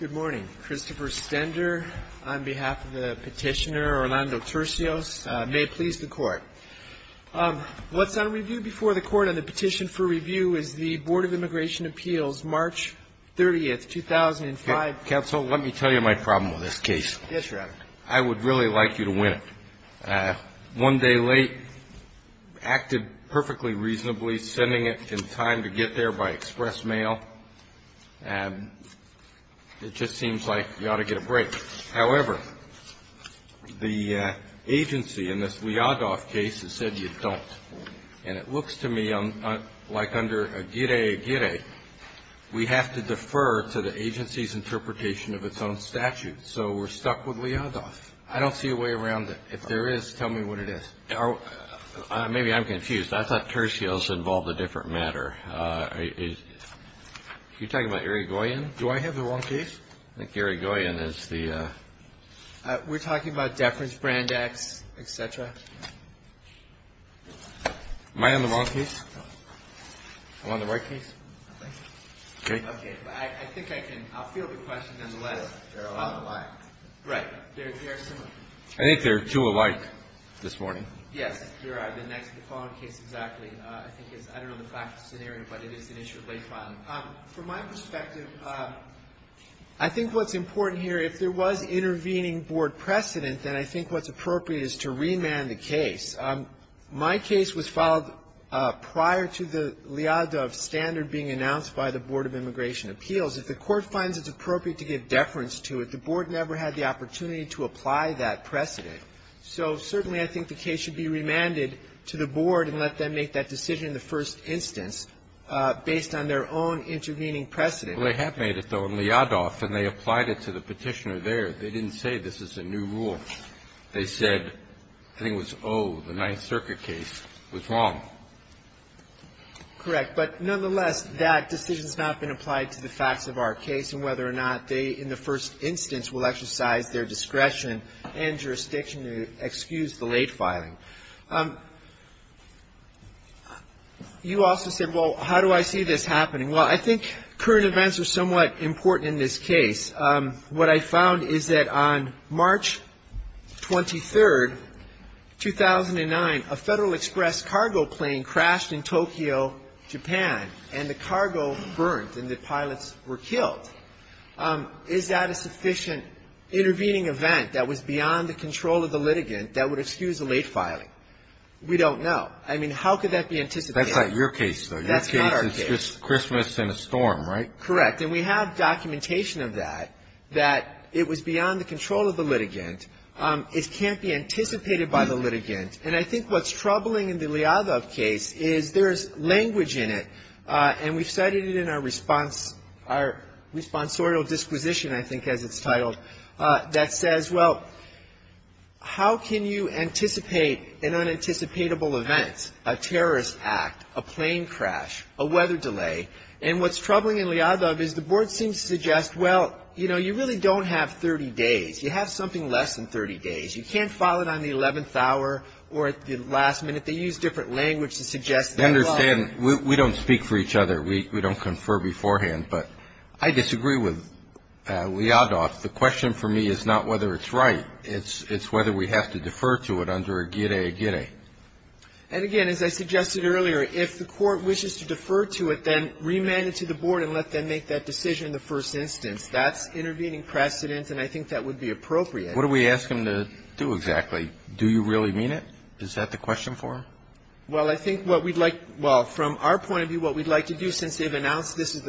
Good morning. Christopher Stender on behalf of the petitioner, Orlando Tursios. May it please the Court. What's on review before the Court on the petition for review is the Board of Immigration Appeals, March 30, 2005. Counsel, let me tell you my problem with this case. Yes, Your Honor. I would really like you to win it. One day late, acted perfectly reasonably, sending it in time to get there by express mail. And it just seems like you ought to get a break. However, the agency in this Liadoff case has said you don't. And it looks to me like under a gire, gire, we have to defer to the agency's interpretation of its own statute. So we're stuck with Liadoff. I don't see a way around it. If there is, tell me what it is. Maybe I'm confused. I thought Tursios involved a different matter. Are you talking about Irigoyen? Do I have the wrong case? I think Irigoyen is the... We're talking about deference brand X, et cetera. Am I on the wrong case? No. I'm on the right case? I think so. Okay. Okay. I think I can, I'll field the question nonetheless. They're alike. Right. They're similar. I think they're two alike this morning. Yes, they are. The next, the following case, exactly, I think is, I don't know the practical scenario, but it is an issue of late filing. From my perspective, I think what's important here, if there was intervening board precedent, then I think what's appropriate is to remand the case. My case was filed prior to the Liadoff standard being announced by the Board of Immigration Appeals. If the court finds it's appropriate to give deference to it, the board never had the opportunity to apply that precedent. So certainly I think the case should be remanded to the board and let them make that decision in the first instance based on their own intervening precedent. Well, they have made it, though, in Liadoff, and they applied it to the Petitioner there. They didn't say this is a new rule. They said, I think it was, oh, the Ninth Circuit case was wrong. Correct. But nonetheless, that decision has not been applied to the facts of our case and whether or not they, in the first instance, will exercise their discretion and jurisdiction to excuse the late filing. You also said, well, how do I see this happening? Well, I think current events are somewhat important in this case. What I found is that on March 23, 2009, a Federal Express cargo plane crashed in Tokyo, Japan, and the cargo burnt and the pilots were killed. Is that a sufficient intervening event that was beyond the control of the litigant that would excuse the late filing? We don't know. I mean, how could that be anticipated? That's not your case, though. Your case is just Christmas and a storm, right? Correct. And we have documentation of that, that it was beyond the control of the litigant. It can't be anticipated by the litigant. And I think what's troubling in the case of Liadov is that there's a responseorial disposition, I think, as it's titled, that says, well, how can you anticipate an unanticipatable event, a terrorist act, a plane crash, a weather delay? And what's troubling in Liadov is the Board seems to suggest, well, you know, you really don't have 30 days. You have something less than 30 days. You can't file it on the 11th hour or at the last minute. They use different language to suggest that. I understand. We don't speak for each other. We don't confer beforehand. But I disagree with Liadov. The question for me is not whether it's right. It's whether we have to defer to it under a gire, a gire. And, again, as I suggested earlier, if the Court wishes to defer to it, then remand it to the Board and let them make that decision in the first instance. That's intervening precedent, and I think that would be appropriate. What do we ask them to do exactly? Do you really mean it? Is that the question for them? Well, I think what we'd like to do, well, from our point of view, what we'd like to do, since they've announced this is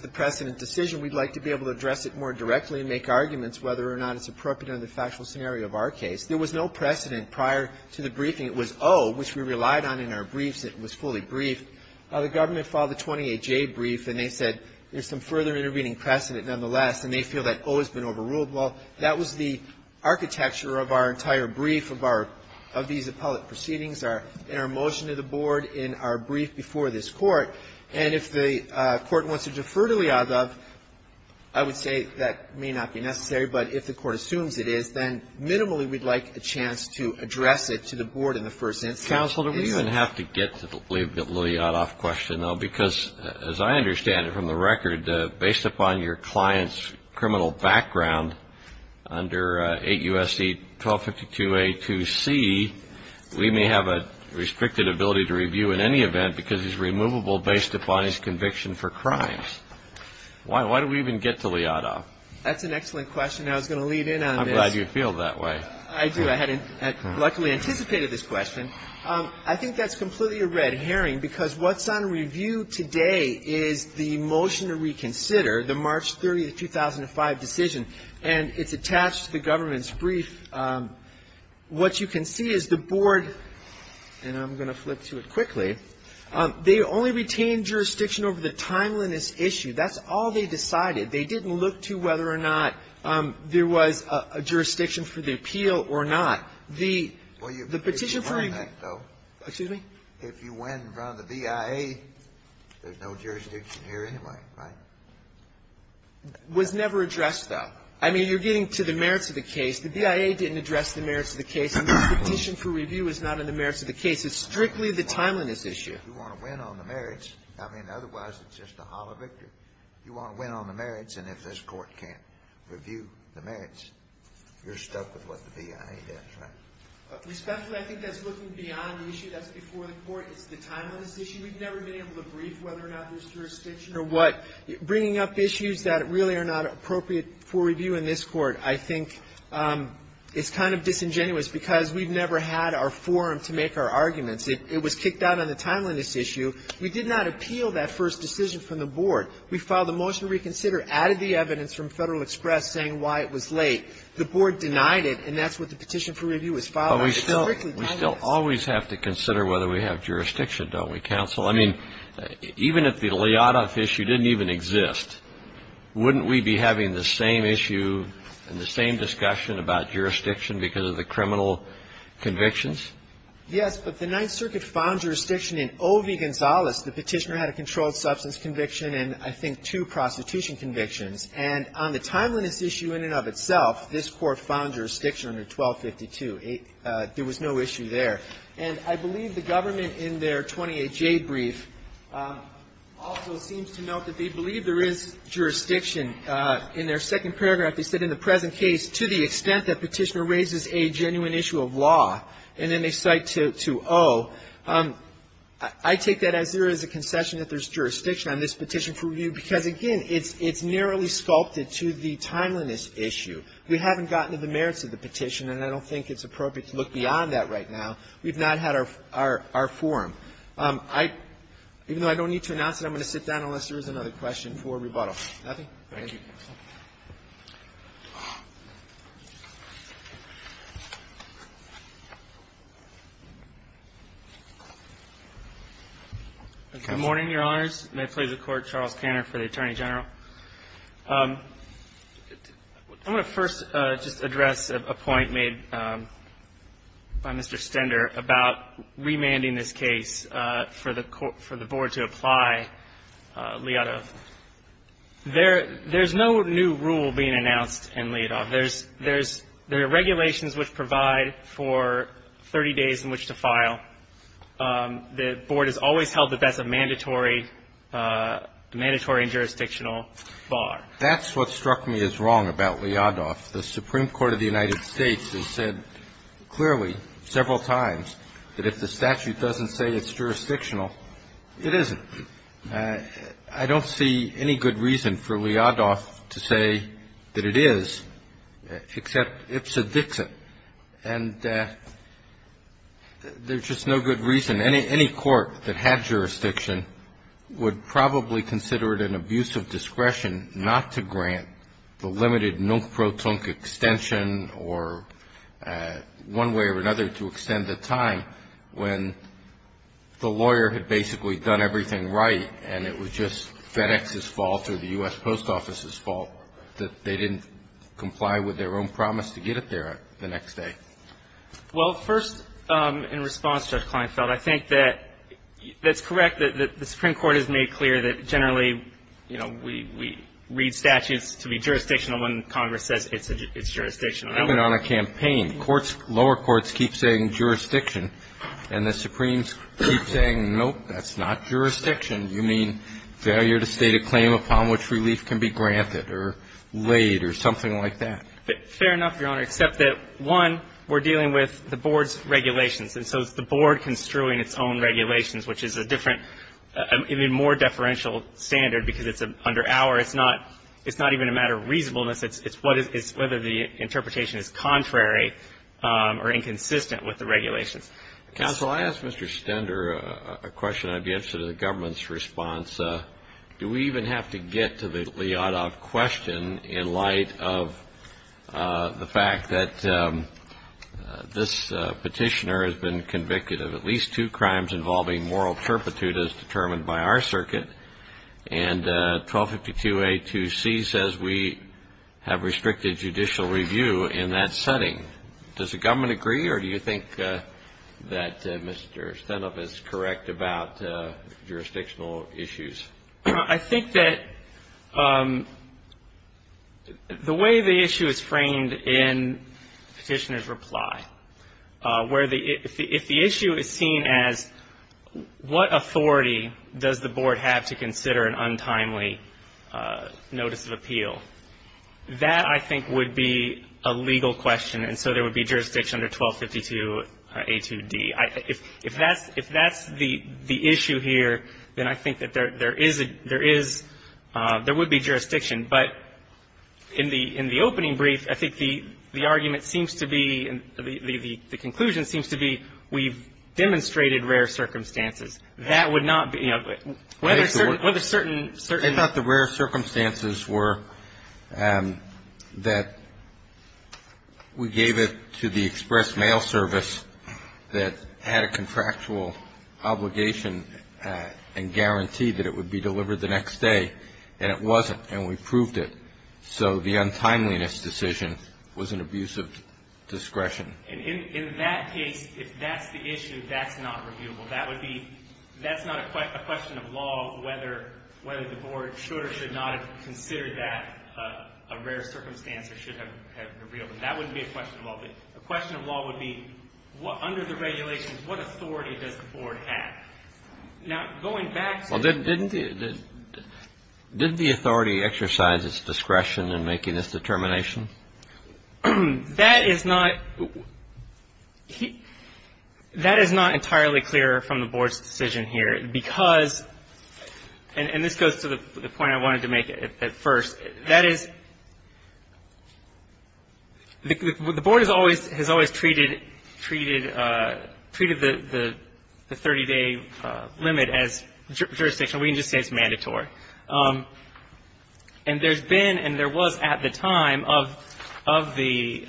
the precedent decision, we'd like to be able to address it more directly and make arguments whether or not it's appropriate under the factual scenario of our case. There was no precedent prior to the briefing. It was O, which we relied on in our briefs. It was fully briefed. The government filed the 28J brief, and they said there's some further intervening precedent nonetheless, and they feel that O has been overruled. Well, that was the architecture of our entire brief, of our, of these appellate proceedings, in our motion to the Board, in our brief before this Court. And if the Court wants to defer to Lyadov, I would say that may not be necessary, but if the Court assumes it is, then minimally we'd like a chance to address it to the Board in the first instance. Counsel, do we even have to get to the Lyadov question, though? Because as I understand it from the record, based upon your client's criminal background under 8 U.S.C. 1252A2C, we may have a restricted ability to review in any event because it's removable based upon his conviction for crimes. Why do we even get to Lyadov? That's an excellent question, and I was going to lead in on this. I'm glad you feel that way. I do. I hadn't, luckily, anticipated this question. I think that's completely a red herring because what's on review today is the motion to reconsider, the March 30, 2005, decision, and it's attached to the government's brief. What you can see is the Board, and I'm going to flip to it quickly, they only retained jurisdiction over the timeliness issue. That's all they decided. They didn't look to whether or not there was a jurisdiction for the appeal or not. The petition for a union was never addressed, though. I mean, you're getting to the merits of the case. The BIA didn't address the merits of the case, and the petition for review is not in the merits of the case. It's strictly the timeliness issue. You want to win on the merits. I mean, otherwise, it's just a hollow victory. You want to win on the merits, and if this Court can't review the merits, you're stuck with what the BIA does, right? Respectfully, I think that's looking beyond the issue. That's before the Court. It's the timeliness issue. We've never been able to brief whether or not there's jurisdiction or what. So bringing up issues that really are not appropriate for review in this Court, I think, is kind of disingenuous because we've never had our forum to make our arguments. It was kicked out on the timeliness issue. We did not appeal that first decision from the Board. We filed a motion to reconsider, added the evidence from Federal Express saying why it was late. The Board denied it, and that's what the petition for review was filed on. It's strictly timeliness. But we still always have to consider whether we have jurisdiction, don't we, counsel? I mean, even if the Lyadov issue didn't even exist, wouldn't we be having the same issue and the same discussion about jurisdiction because of the criminal convictions? Yes, but the Ninth Circuit found jurisdiction in O.V. Gonzales. The petitioner had a controlled substance conviction and, I think, two prostitution convictions. And on the timeliness issue in and of itself, this Court found jurisdiction under 1252. There was no issue there. And I believe the government in their 28J brief also seems to note that they believe there is jurisdiction. In their second paragraph, they said, in the present case, to the extent that petitioner raises a genuine issue of law, and then they cite to O. I take that as there is a concession that there's jurisdiction on this petition for review because, again, it's narrowly sculpted to the timeliness issue. We haven't gotten to the merits of the petition, and I don't think it's appropriate to look beyond that right now. We've not had our forum. Even though I don't need to announce it, I'm going to sit down unless there is another question for rebuttal. Nothing? Thank you. Good morning, Your Honors. May it please the Court, Charles Cantor for the Attorney General. I'm going to first just address a point made by Mr. Stender about remanding this case for the Board to apply Liadov. There's no new rule being announced in Liadov. There's regulations which provide for 30 days in which to file. The Board has always held that that's a mandatory, mandatory and jurisdictional bar. That's what struck me as wrong about Liadov. The Supreme Court of the United States has said clearly several times that if the statute doesn't say it's jurisdictional, it isn't. I don't see any good reason for Liadov to say that it is, except it's a Dixon. And there's just no good reason. Any court that had jurisdiction would probably consider it an abuse of discretion not to grant the limited non-proton extension or one way or another to extend the time when the lawyer had basically done everything right and it was just FedEx's fault or the U.S. Post Office's fault that they didn't comply with their own promise to get it there the next day. Well, first, in response, Judge Kleinfeld, I think that that's correct, that the Supreme Court has made clear that generally, you know, we read statutes to be jurisdictional when Congress says it's jurisdictional. Even on a campaign, courts, lower courts keep saying jurisdiction, and the Supremes keep saying, nope, that's not jurisdiction. You mean failure to state a claim upon which relief can be granted or laid or something like that. Fair enough, Your Honor, except that, one, we're dealing with the board's regulations, and so it's the board construing its own regulations, which is a different, even more deferential standard, because it's under our. It's not even a matter of reasonableness. It's whether the interpretation is contrary or inconsistent with the regulations. Counsel, I asked Mr. Stender a question. I'd be interested in the government's response. Do we even have to get to the Lyotov question in light of the fact that this petitioner has been convicted of at least two crimes involving moral turpitude as determined by our circuit, and 1252A2C says we have restricted judicial review in that setting. Does the government agree, or do you think that Mr. Stender is correct about jurisdictional issues? I think that the way the issue is framed in the petitioner's reply, if the issue is seen as what authority does the board have to consider an untimely notice of appeal, that, I think, would be a legal question, and so there would be jurisdiction under 1252A2D. If that's the issue here, then I think that there is a – there is – there would be jurisdiction. But in the opening brief, I think the argument seems to be – the conclusion seems to be we've demonstrated rare circumstances. That would not be – whether certain – whether certain – that had a contractual obligation and guaranteed that it would be delivered the next day, and it wasn't, and we proved it. So the untimeliness decision was an abuse of discretion. And in that case, if that's the issue, that's not reviewable. That would be – that's not a question of law, whether the board should or should not have considered that a rare circumstance or should have revealed it. That wouldn't be a question of law. A question of law would be under the regulations, what authority does the board have? Now, going back to the – Well, didn't the – didn't the authority exercise its discretion in making this determination? That is not – that is not entirely clear from the board's decision here because – and this goes to the point I wanted to make at first. That is – the board has always treated – treated the 30-day limit as jurisdictional. We can just say it's mandatory. And there's been and there was at the time of the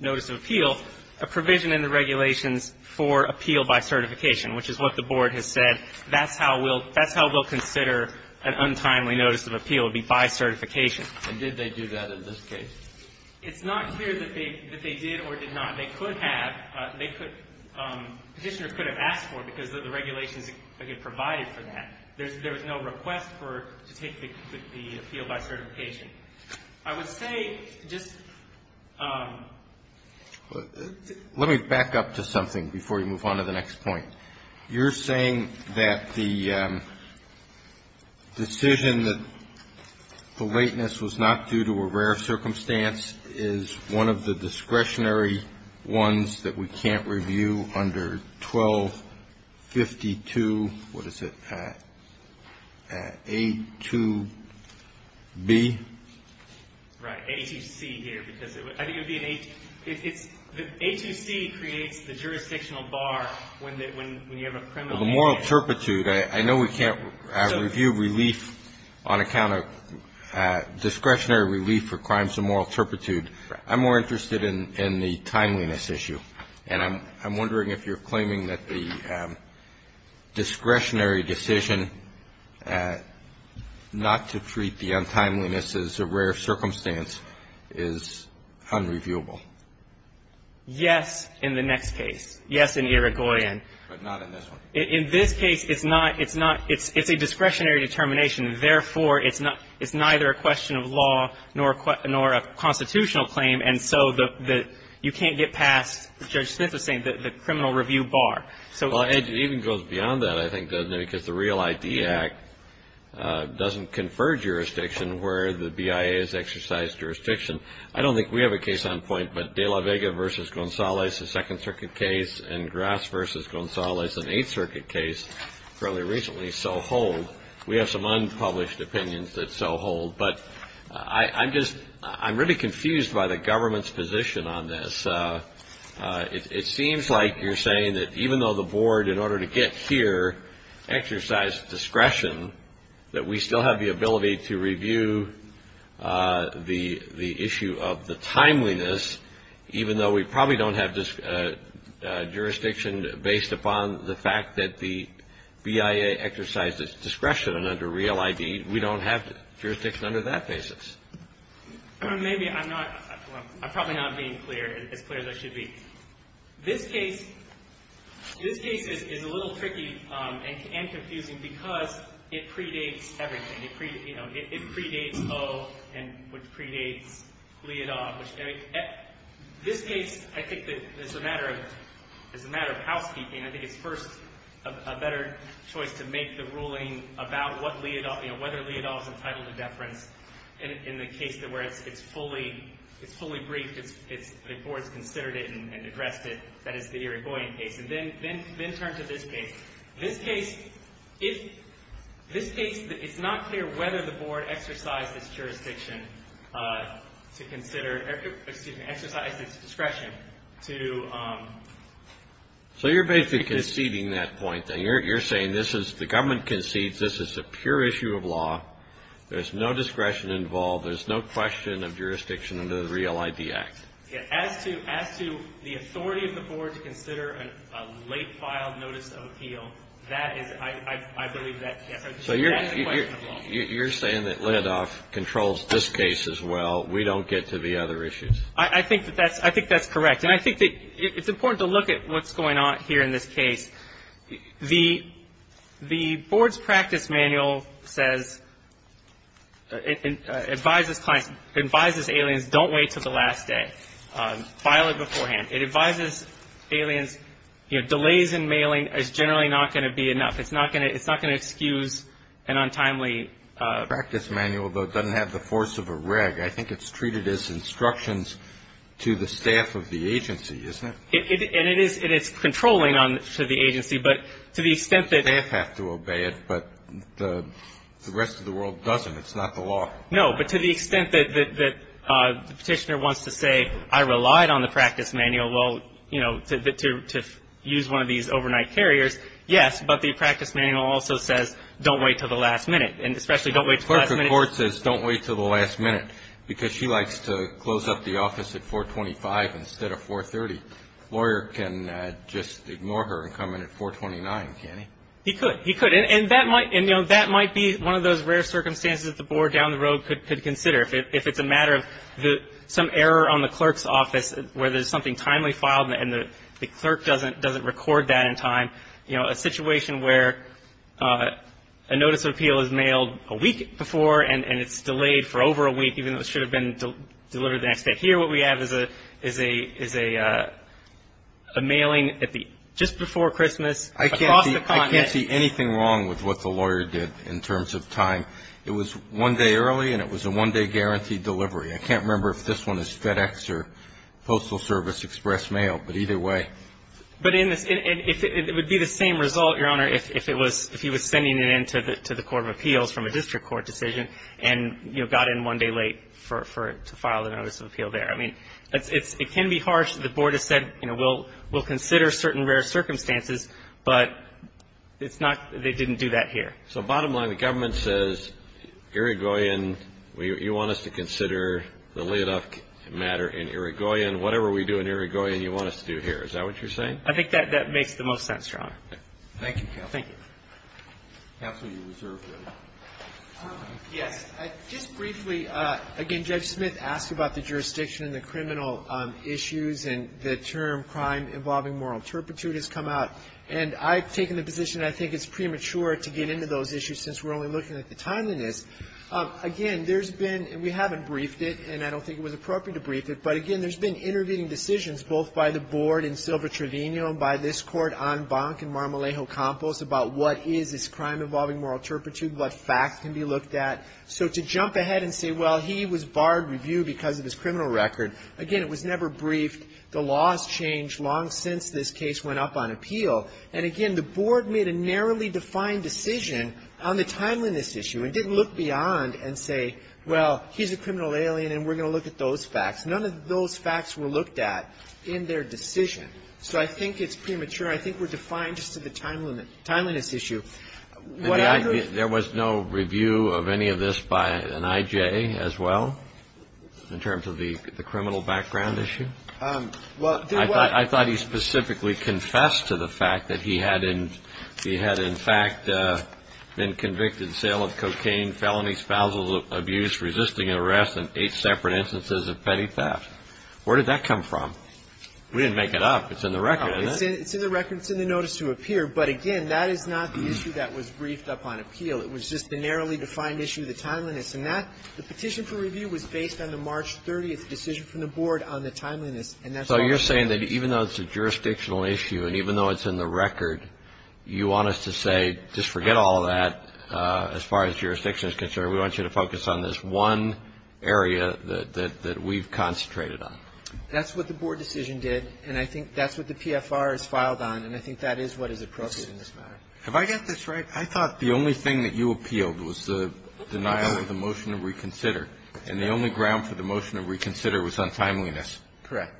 notice of appeal a provision in the regulations for appeal by certification, which is what the board has said. That's how we'll – that's how we'll consider an untimely notice of appeal. It would be by certification. And did they do that in this case? It's not clear that they – that they did or did not. They could have. They could – Petitioners could have asked for it because of the regulations that get provided for that. There's – there was no request for – to take the appeal by certification. I would say just – Let me back up to something before you move on to the next point. You're saying that the decision that the lateness was not due to a rare circumstance is one of the discretionary ones that we can't review under 1252 – what is it – A2B? Right. A2C here because it would – I think it would be an – it's – the A2C creates the jurisdictional bar when you have a criminal case. Well, the moral turpitude, I know we can't review relief on account of discretionary relief for crimes of moral turpitude. I'm more interested in the timeliness issue. And I'm wondering if you're claiming that the discretionary decision not to treat the untimeliness as a rare circumstance is unreviewable. Yes, in the next case. Yes, in Irigoyen. But not in this one. In this case, it's not – it's not – it's a discretionary determination. Therefore, it's not – it's neither a question of law nor a constitutional claim. And so the – you can't get past, Judge Smith is saying, the criminal review bar. Well, it even goes beyond that, I think, doesn't it, because the Real ID Act doesn't confer jurisdiction where the BIA has exercised jurisdiction. I don't think we have a case on point, but de la Vega v. Gonzalez, a Second Circuit case, and Grass v. Gonzalez, an Eighth Circuit case fairly recently, so hold. We have some unpublished opinions that so hold. But I'm just – I'm really confused by the government's position on this. It seems like you're saying that even though the board, in order to get here, exercised discretion, that we still have the ability to review the issue of the timeliness, even though we probably don't have jurisdiction based upon the fact that the BIA exercised its discretion under Real ID. We don't have jurisdiction under that basis. Maybe I'm not – I'm probably not being clear, as clear as I should be. This case – this case is a little tricky and confusing because it predates everything. You know, it predates O, which predates Leodol. This case, I think, is a matter of – is a matter of housekeeping. I think it's first a better choice to make the ruling about what Leodol – you know, whether Leodol is entitled to deference. In the case where it's fully – it's fully briefed, the board's considered it and addressed it. That is the Irigoyen case. And then turn to this case. This case, if – this case, it's not clear whether the board exercised its jurisdiction to consider – excuse me, exercised its discretion to – So you're basically conceding that point, then. You're saying this is – the government concedes this is a pure issue of law. There's no discretion involved. There's no question of jurisdiction under the Real ID Act. As to the authority of the board to consider a late filed notice of appeal, that is – I believe that – So you're saying that Leodol controls this case as well. We don't get to the other issues. I think that that's – I think that's correct. And I think that it's important to look at what's going on here in this case. The board's practice manual says – advises clients – advises aliens don't wait until the last day. File it beforehand. It advises aliens, you know, delays in mailing is generally not going to be enough. It's not going to – it's not going to excuse an untimely – The practice manual, though, doesn't have the force of a reg. I think it's treated as instructions to the staff of the agency, isn't it? And it is controlling to the agency, but to the extent that – Staff have to obey it, but the rest of the world doesn't. It's not the law. No, but to the extent that the Petitioner wants to say, I relied on the practice manual, well, you know, to use one of these overnight carriers, yes, but the practice manual also says don't wait until the last minute, and especially don't wait until the last minute – lawyer can just ignore her and come in at 429, can't he? He could. He could. And, you know, that might be one of those rare circumstances that the board down the road could consider. If it's a matter of some error on the clerk's office where there's something timely filed and the clerk doesn't record that in time, you know, a situation where a notice of appeal is mailed a week before and it's delayed for over a week, even though it should have been delivered the next day. And here what we have is a mailing just before Christmas. I can't see anything wrong with what the lawyer did in terms of time. It was one day early and it was a one-day guaranteed delivery. I can't remember if this one is FedEx or Postal Service Express Mail, but either way. But in this – it would be the same result, Your Honor, if he was sending it in to the Court of Appeals from a district court decision and, you know, got in one day late for it to file a notice of appeal there. I mean, it can be harsh. The board has said, you know, we'll consider certain rare circumstances, but it's not – they didn't do that here. So bottom line, the government says, Irigoyen, you want us to consider the Leoduc matter in Irigoyen. Whatever we do in Irigoyen, you want us to do here. Is that what you're saying? I think that makes the most sense, Your Honor. Thank you, counsel. Thank you. Counsel, you're reserved, really. Yes. Just briefly, again, Judge Smith asked about the jurisdiction and the criminal issues and the term crime involving moral turpitude has come out. And I've taken the position I think it's premature to get into those issues since we're only looking at the timeliness. Again, there's been – and we haven't briefed it, and I don't think it was appropriate to brief it. But, again, there's been intervening decisions both by the board in Silva Trevino and by this Court en banc in Marmolejo Campos about what is this crime involving moral turpitude, what facts can be looked at. So to jump ahead and say, well, he was barred review because of his criminal record, again, it was never briefed. The laws changed long since this case went up on appeal. And, again, the board made a narrowly defined decision on the timeliness issue and didn't look beyond and say, well, he's a criminal alien and we're going to look at those facts. None of those facts were looked at in their decision. So I think it's premature. I think we're defined just to the timeliness issue. There was no review of any of this by an I.J. as well in terms of the criminal background issue? I thought he specifically confessed to the fact that he had in fact been convicted, sale of cocaine, felony spousal abuse, resisting arrest, and eight separate instances of petty theft. Where did that come from? We didn't make it up. It's in the record, isn't it? It's in the record. It's in the notice to appear. But, again, that is not the issue that was briefed up on appeal. It was just the narrowly defined issue, the timeliness. And the petition for review was based on the March 30th decision from the board on the timeliness. So you're saying that even though it's a jurisdictional issue and even though it's in the record, you want us to say just forget all that as far as jurisdiction is concerned. We want you to focus on this one area that we've concentrated on. That's what the board decision did. And I think that's what the PFR has filed on. And I think that is what is appropriate in this matter. Have I got this right? I thought the only thing that you appealed was the denial of the motion to reconsider. And the only ground for the motion to reconsider was on timeliness. Correct.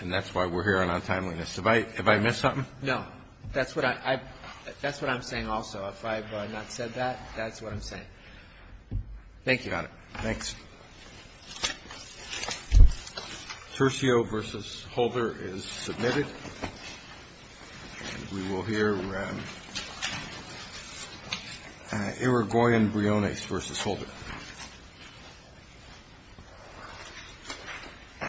And that's why we're hearing on timeliness. Have I missed something? No. That's what I'm saying also. If I have not said that, that's what I'm saying. Thank you, Your Honor. Thanks. Thank you. Tercio v. Holder is submitted. And we will hear from Irigoyen Briones v. Holder.